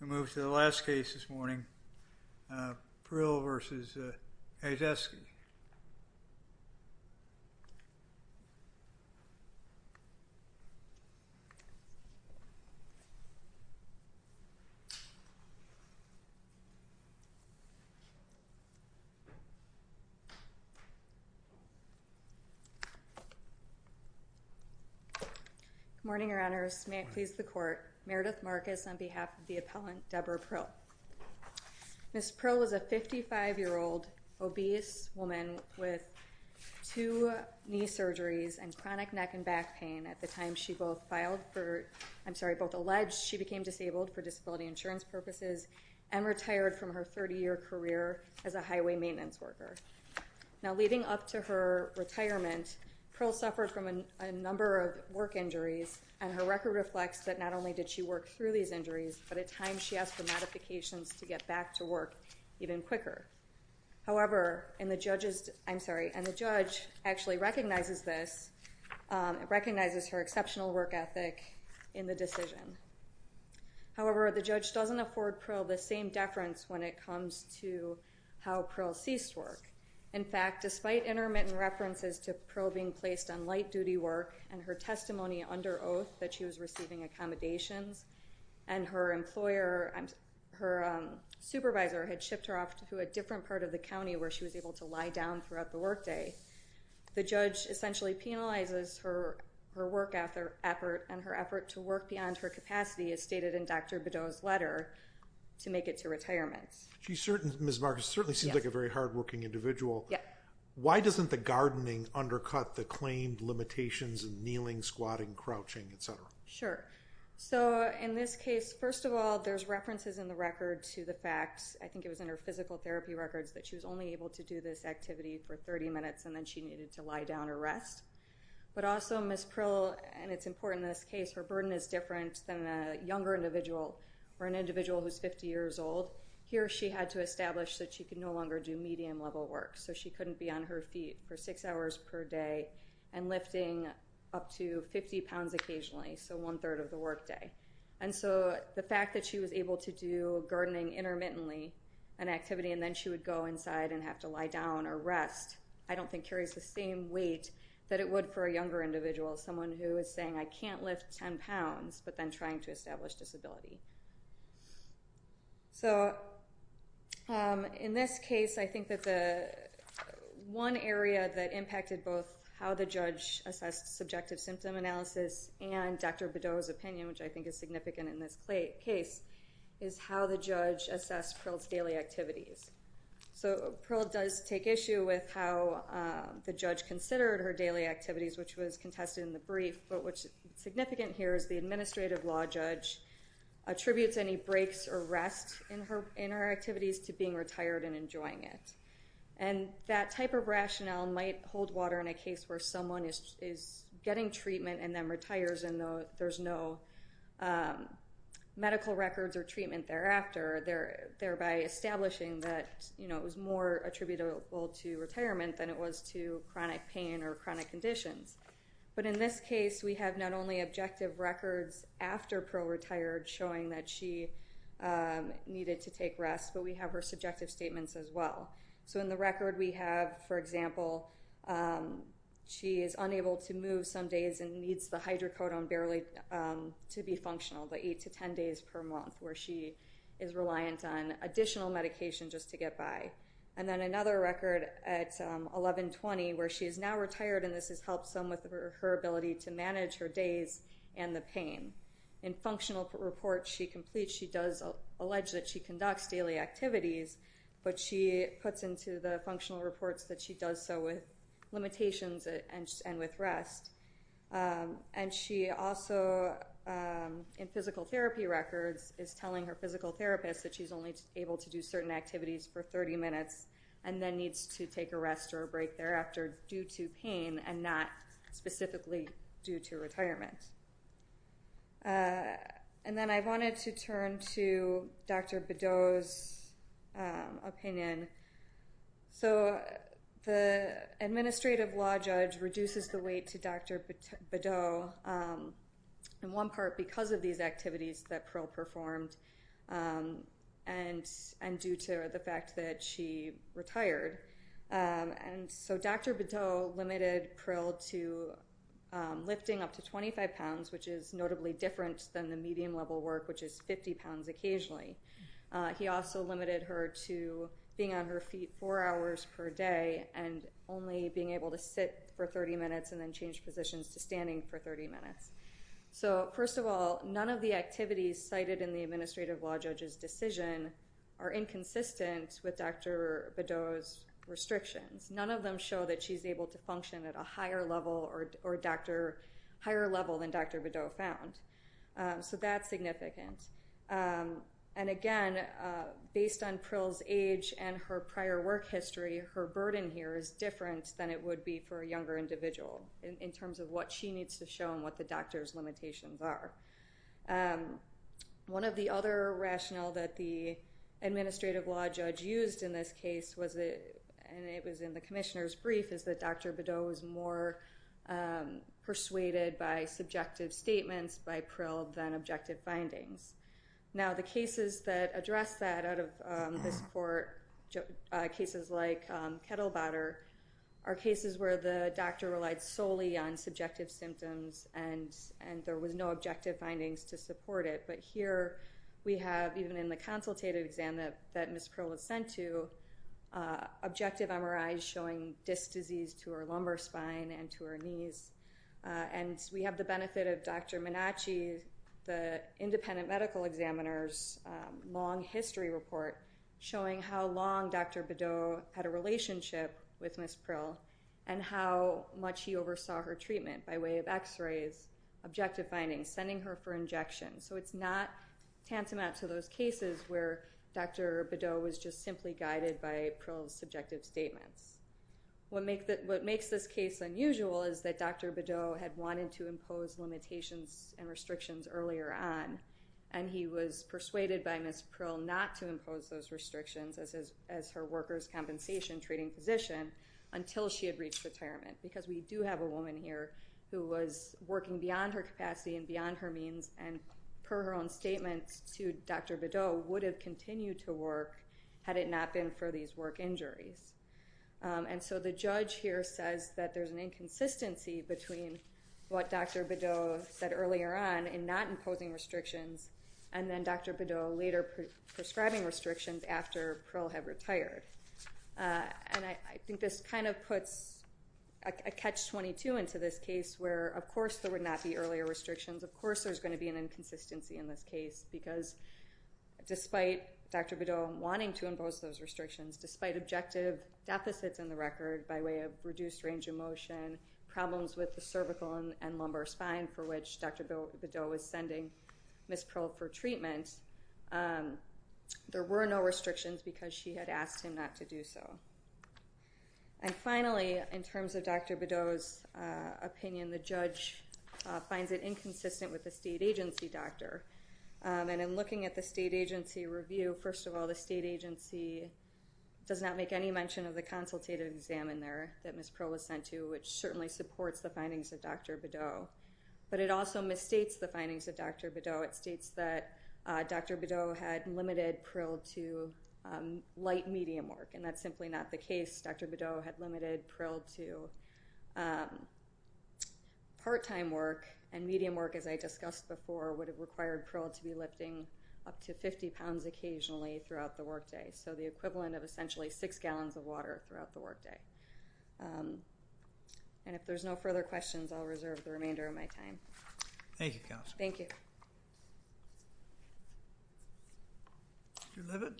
We move to the last case this morning, Prill v. Kijakazi. Good morning, Your Honors. May it please the Court, Meredith Marcus on behalf of the appellant Debra Prill. Ms. Prill was a 55-year-old obese woman with two knee surgeries and chronic neck and back pain at the time she both alleged she became disabled for disability insurance purposes and retired from her 30-year career as a highway maintenance worker. Now, leading up to her retirement, Prill suffered from a number of work injuries and her record reflects that not only did she work through these injuries, but at times she asked for modifications to get back to work even quicker. However, the judge actually recognizes her exceptional work ethic in the decision. However, the judge doesn't afford Prill the same deference when it comes to how Prill ceased work. In fact, despite intermittent references to Prill being placed on light duty work and her testimony under oath that she was receiving accommodations and her supervisor had shipped her off to a different part of the county where she was able to lie down throughout the workday, the judge essentially penalizes her work effort and her effort to work beyond her capacity as stated in Dr. Bideau's letter to make it to retirement. Ms. Marcus certainly seems like a very hardworking individual. Why doesn't the gardening undercut the claimed limitations in kneeling, squatting, crouching, etc.? Sure. So in this case, first of all, there's references in the record to the fact, I think it was in her physical therapy records, that she was only able to do this activity for 30 minutes and then she needed to lie down or rest. But also Ms. Prill, and it's important in this case, her burden is different than a younger individual or an individual who's 50 years old. Here she had to establish that she could no longer do medium level work. So she couldn't be on her feet for six hours per day and lifting up to 50 pounds occasionally, so one-third of the workday. And so the fact that she was able to do gardening intermittently, an activity, and then she would go inside and have to lie down or rest, I don't think carries the same weight that it would for a younger individual, someone who is saying, I can't lift 10 pounds, but then trying to establish disability. So in this case, I think that the one area that impacted both how the judge assessed subjective symptom analysis and Dr. Bedoa's opinion, which I think is significant in this case, is how the judge assessed Prill's daily activities. So Prill does take issue with how the judge considered her daily activities, which was contested in the brief, but what's significant here is the administrative law judge attributes any breaks or rest in her activities to being retired and enjoying it. And that type of rationale might hold water in a case where someone is getting treatment and then retires and there's no medical records or treatment thereafter, thereby establishing that it was more attributable to retirement than it was to chronic pain or chronic conditions. But in this case, we have not only objective records after Prill retired showing that she needed to take rest, but we have her subjective statements as well. So in the record we have, for example, she is unable to move some days and needs the hydrocodone barely to be functional, but 8 to 10 days per month, where she is reliant on additional medication just to get by. And then another record at 11-20 where she is now retired, and this has helped some with her ability to manage her days and the pain. In functional reports she completes, she does allege that she conducts daily activities, but she puts into the functional reports that she does so with limitations and with rest. And she also, in physical therapy records, is telling her physical therapist that she's only able to do certain activities for 30 minutes and then needs to take a rest or a break thereafter due to pain and not specifically due to retirement. And then I wanted to turn to Dr. Bedeau's opinion. So the administrative law judge reduces the weight to Dr. Bedeau, in one part because of these activities that Prill performed and due to the fact that she retired. And so Dr. Bedeau limited Prill to lifting up to 25 pounds, which is notably different than the medium-level work, which is 50 pounds occasionally. He also limited her to being on her feet four hours per day and only being able to sit for 30 minutes and then change positions to standing for 30 minutes. So first of all, none of the activities cited in the administrative law judge's decision are inconsistent with Dr. Bedeau's restrictions. None of them show that she's able to function at a higher level than Dr. Bedeau found. So that's significant. And again, based on Prill's age and her prior work history, her burden here is different than it would be for a younger individual in terms of what she needs to show and what the doctor's limitations are. One of the other rationale that the administrative law judge used in this case was, and it was in the commissioner's brief, is that Dr. Bedeau was more persuaded by subjective statements by Prill than objective findings. Now, the cases that address that out of this court, cases like Kettlebotter, are cases where the doctor relied solely on subjective symptoms and there was no objective findings to support it. But here we have, even in the consultative exam that Ms. Prill was sent to, objective MRIs showing disc disease to her lumbar spine and to her knees. And we have the benefit of Dr. Minacci, the independent medical examiner's long history report, showing how long Dr. Bedeau had a relationship with Ms. Prill and how much he oversaw her treatment by way of X-rays, objective findings, sending her for injections. So it's not tantamount to those cases where Dr. Bedeau was just simply guided by Prill's subjective statements. What makes this case unusual is that Dr. Bedeau had wanted to impose limitations and restrictions earlier on, and he was persuaded by Ms. Prill not to impose those restrictions as her workers' compensation treating physician until she had reached retirement. Because we do have a woman here who was working beyond her capacity and beyond her means and, per her own statements to Dr. Bedeau, would have continued to work had it not been for these work injuries. And so the judge here says that there's an inconsistency between what Dr. Bedeau said earlier on in not imposing restrictions and then Dr. Bedeau later prescribing restrictions after Prill had retired. And I think this kind of puts a catch-22 into this case where, of course, there would not be earlier restrictions, of course there's going to be an inconsistency in this case, because despite Dr. Bedeau wanting to impose those restrictions, despite objective deficits in the record by way of reduced range of motion, problems with the cervical and lumbar spine for which Dr. Bedeau was sending Ms. Prill for treatment, there were no restrictions because she had asked him not to do so. And finally, in terms of Dr. Bedeau's opinion, the judge finds it inconsistent with the state agency doctor. And in looking at the state agency review, first of all, the state agency does not make any mention of the consultative exam in there that Ms. Prill was sent to, which certainly supports the findings of Dr. Bedeau. But it also misstates the findings of Dr. Bedeau. It states that Dr. Bedeau had limited Prill to light-medium work, and that's simply not the case. Dr. Bedeau had limited Prill to part-time work, and medium work, as I discussed before, would have required Prill to be lifting up to 50 pounds occasionally throughout the workday. So the equivalent of essentially six gallons of water throughout the workday. And if there's no further questions, I'll reserve the remainder of my time. Thank you, Counselor. Thank you. Mr. Leavitt?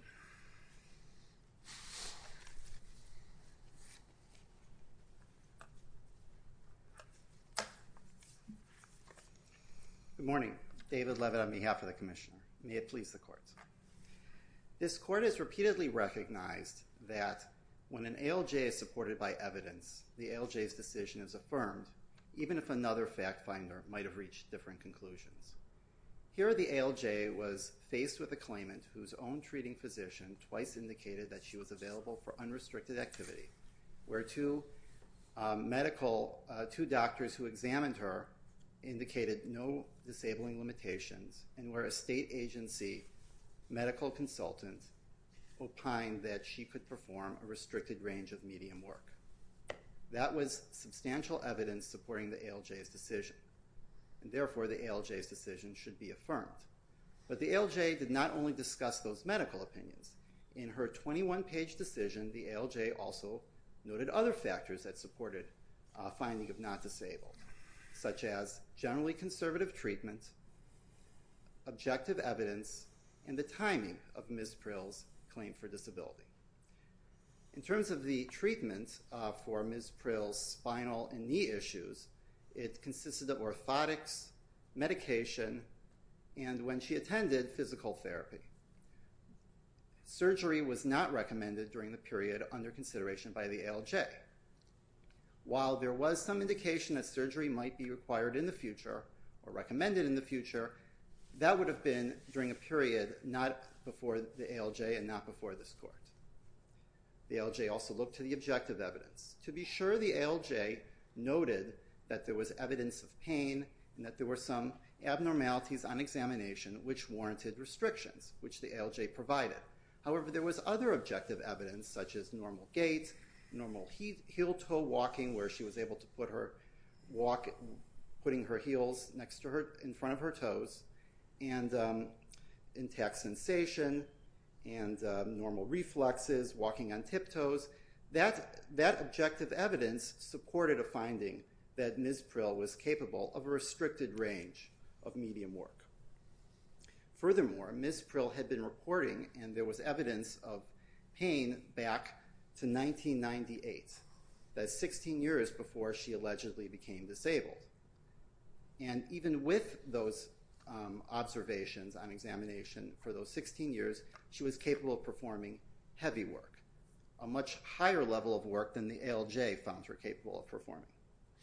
Good morning. David Leavitt on behalf of the Commissioner. May it please the Court. This Court has repeatedly recognized that when an ALJ is supported by evidence, the ALJ's decision is affirmed, even if another fact finder might have reached different conclusions. Here, the ALJ was faced with a claimant whose own treating physician twice indicated that she was available for unrestricted activity, where two doctors who examined her indicated no disabling limitations, and where a state agency medical consultant opined that she could perform a restricted range of medium work. That was substantial evidence supporting the ALJ's decision, and therefore the ALJ's decision should be affirmed. But the ALJ did not only discuss those medical opinions. In her 21-page decision, the ALJ also noted other factors that supported finding of not disabled, such as generally conservative treatment, objective evidence, and the timing of Ms. Prill's claim for disability. In terms of the treatment for Ms. Prill's spinal and knee issues, it consisted of orthotics, medication, and when she attended, physical therapy. Surgery was not recommended during the period under consideration by the ALJ. While there was some indication that surgery might be required in the future or recommended in the future, that would have been during a period not before the ALJ and not before this Court. The ALJ also looked to the objective evidence to be sure the ALJ noted that there was evidence of pain and that there were some abnormalities on examination which warranted restrictions, which the ALJ provided. However, there was other objective evidence, such as normal gait, normal heel-toe walking, where she was able to put her heels in front of her toes, and intact sensation, and normal reflexes, walking on tiptoes. That objective evidence supported a finding that Ms. Prill was capable of a restricted range of medium work. Furthermore, Ms. Prill had been reporting, and there was evidence of pain back to 1998, that's 16 years before she allegedly became disabled. And even with those observations on examination for those 16 years, she was capable of performing heavy work, a much higher level of work than the ALJ found her capable of performing.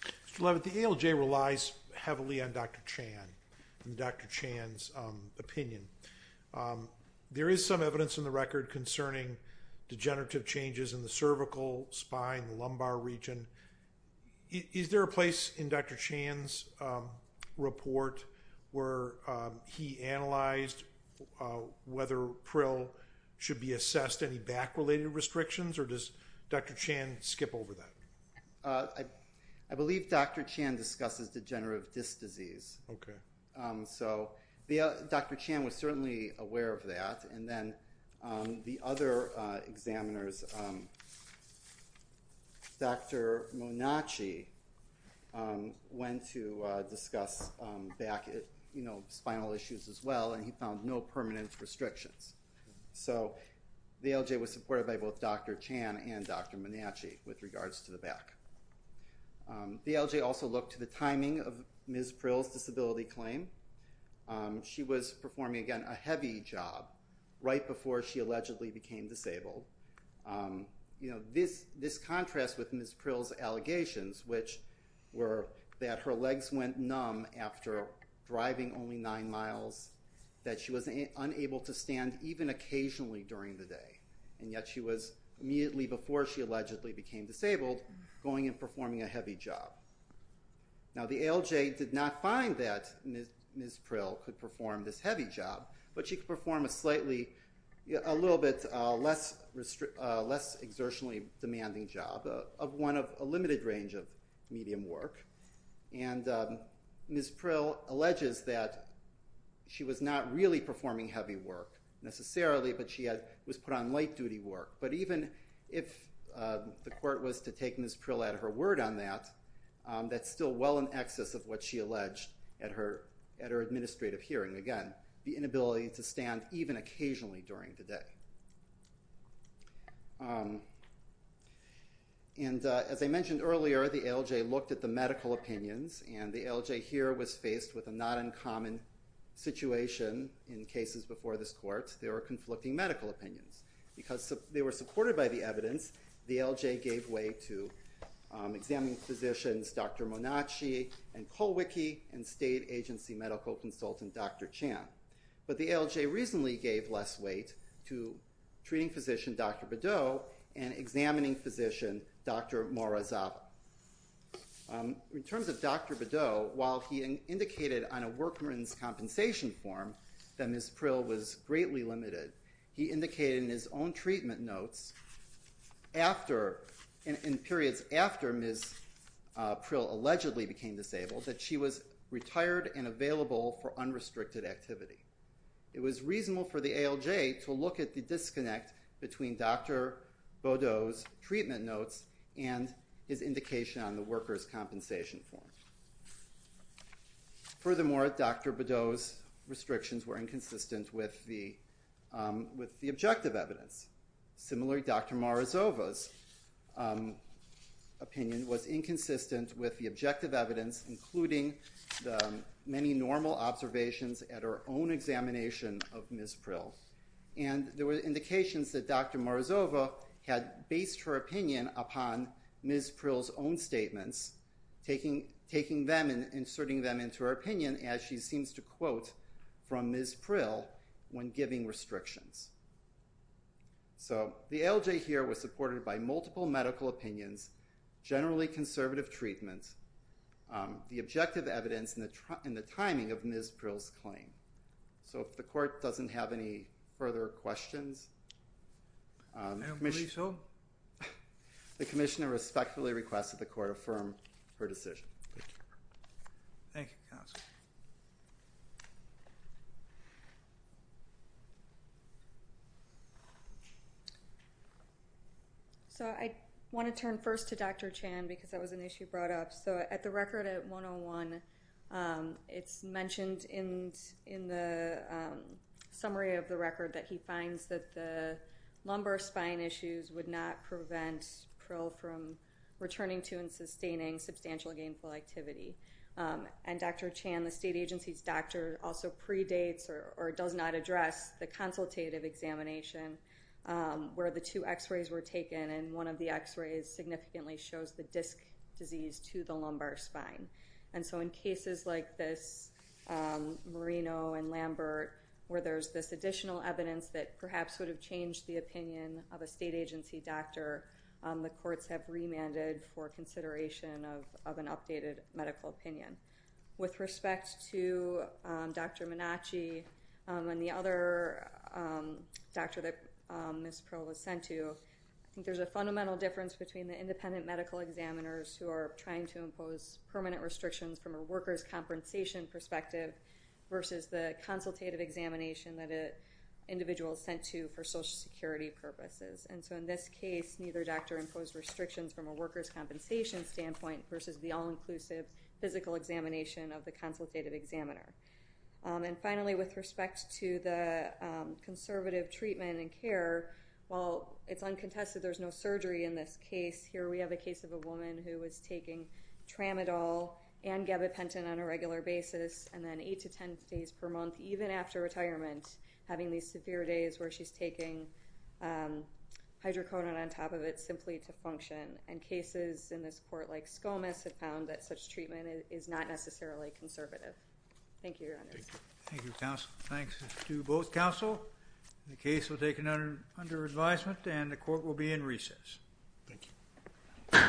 Mr. Leavitt, the ALJ relies heavily on Dr. Chan and Dr. Chan's opinion. There is some evidence in the record concerning degenerative changes in the cervical, spine, and lumbar region. Is there a place in Dr. Chan's report where he analyzed whether Prill should be assessed any back-related restrictions, or does Dr. Chan skip over that? I believe Dr. Chan discusses degenerative disc disease. Okay. So Dr. Chan was certainly aware of that. And then the other examiners, Dr. Monacci, went to discuss back, you know, spinal issues as well, and he found no permanent restrictions. So the ALJ was supported by both Dr. Chan and Dr. Monacci with regards to the back. The ALJ also looked to the timing of Ms. Prill's disability claim. She was performing, again, a heavy job right before she allegedly became disabled. You know, this contrast with Ms. Prill's allegations, which were that her legs went numb after driving only nine miles, that she was unable to stand even occasionally during the day, and yet she was immediately, before she allegedly became disabled, going and performing a heavy job. Now, the ALJ did not find that Ms. Prill could perform this heavy job, but she could perform a slightly, a little bit less exertionally demanding job of one of a limited range of medium work. And Ms. Prill alleges that she was not really performing heavy work necessarily, but she was put on light-duty work. But even if the court was to take Ms. Prill out of her word on that, that's still well in excess of what she alleged at her administrative hearing. Again, the inability to stand even occasionally during the day. And as I mentioned earlier, the ALJ looked at the medical opinions, and the ALJ here was faced with a not uncommon situation in cases before this court. There were conflicting medical opinions. Because they were supported by the evidence, the ALJ gave way to examining physicians Dr. Monacci and Colwicky and state agency medical consultant Dr. Chan. But the ALJ reasonably gave less weight to treating physician Dr. Bedot and examining physician Dr. Morozova. In terms of Dr. Bedot, while he indicated on a workman's compensation form that Ms. Prill was greatly limited, he indicated in his own treatment notes in periods after Ms. Prill allegedly became disabled that she was retired and available for unrestricted activity. It was reasonable for the ALJ to look at the disconnect between Dr. Bedot's treatment notes and his indication on the worker's compensation form. Furthermore, Dr. Bedot's restrictions were inconsistent with the objective evidence. Similarly, Dr. Morozova's opinion was inconsistent with the objective evidence, including the many normal observations at her own examination of Ms. Prill. And there were indications that Dr. Morozova had based her opinion upon Ms. Prill's own statements, taking them and inserting them into her opinion as she seems to quote from Ms. Prill when giving restrictions. So the ALJ here was supported by multiple medical opinions, generally conservative treatments, the objective evidence, and the timing of Ms. Prill's claim. So if the court doesn't have any further questions... I believe so. The commissioner respectfully requests that the court affirm her decision. Thank you, counsel. So I want to turn first to Dr. Chan because that was an issue brought up. So at the record at 101, it's mentioned in the summary of the record that he finds that the lumbar spine issues would not prevent Prill from returning to and sustaining substantial gainful activity. And Dr. Chan, the state agency's doctor, also predates or does not address the consultative examination where the two x-rays were taken and one of the x-rays significantly shows the disc disease to the lumbar spine. And so in cases like this Marino and Lambert where there's this additional evidence that perhaps would have changed the opinion of a state agency doctor, the courts have remanded for consideration of an updated medical opinion. With respect to Dr. Minacci and the other doctor that Ms. Prill was sent to, I think there's a fundamental difference between the independent medical examiners who are trying to impose permanent restrictions from a workers' compensation perspective versus the consultative examination that an individual is sent to for Social Security purposes. And so in this case, neither doctor imposed restrictions from a workers' compensation standpoint versus the all-inclusive physical examination of the consultative examiner. And finally, with respect to the conservative treatment and care, while it's uncontested there's no surgery in this case, here we have a case of a woman who was taking tramadol and gabapentin on a regular basis and then 8 to 10 days per month, even after retirement, having these severe days where she's taking hydrocodone on top of it simply to function. And cases in this court like Skomas have found that such treatment is not necessarily conservative. Thank you, Your Honors. Thank you, counsel. Thanks to both counsel. The case will take another under advisement and the court will be in recess. Thank you.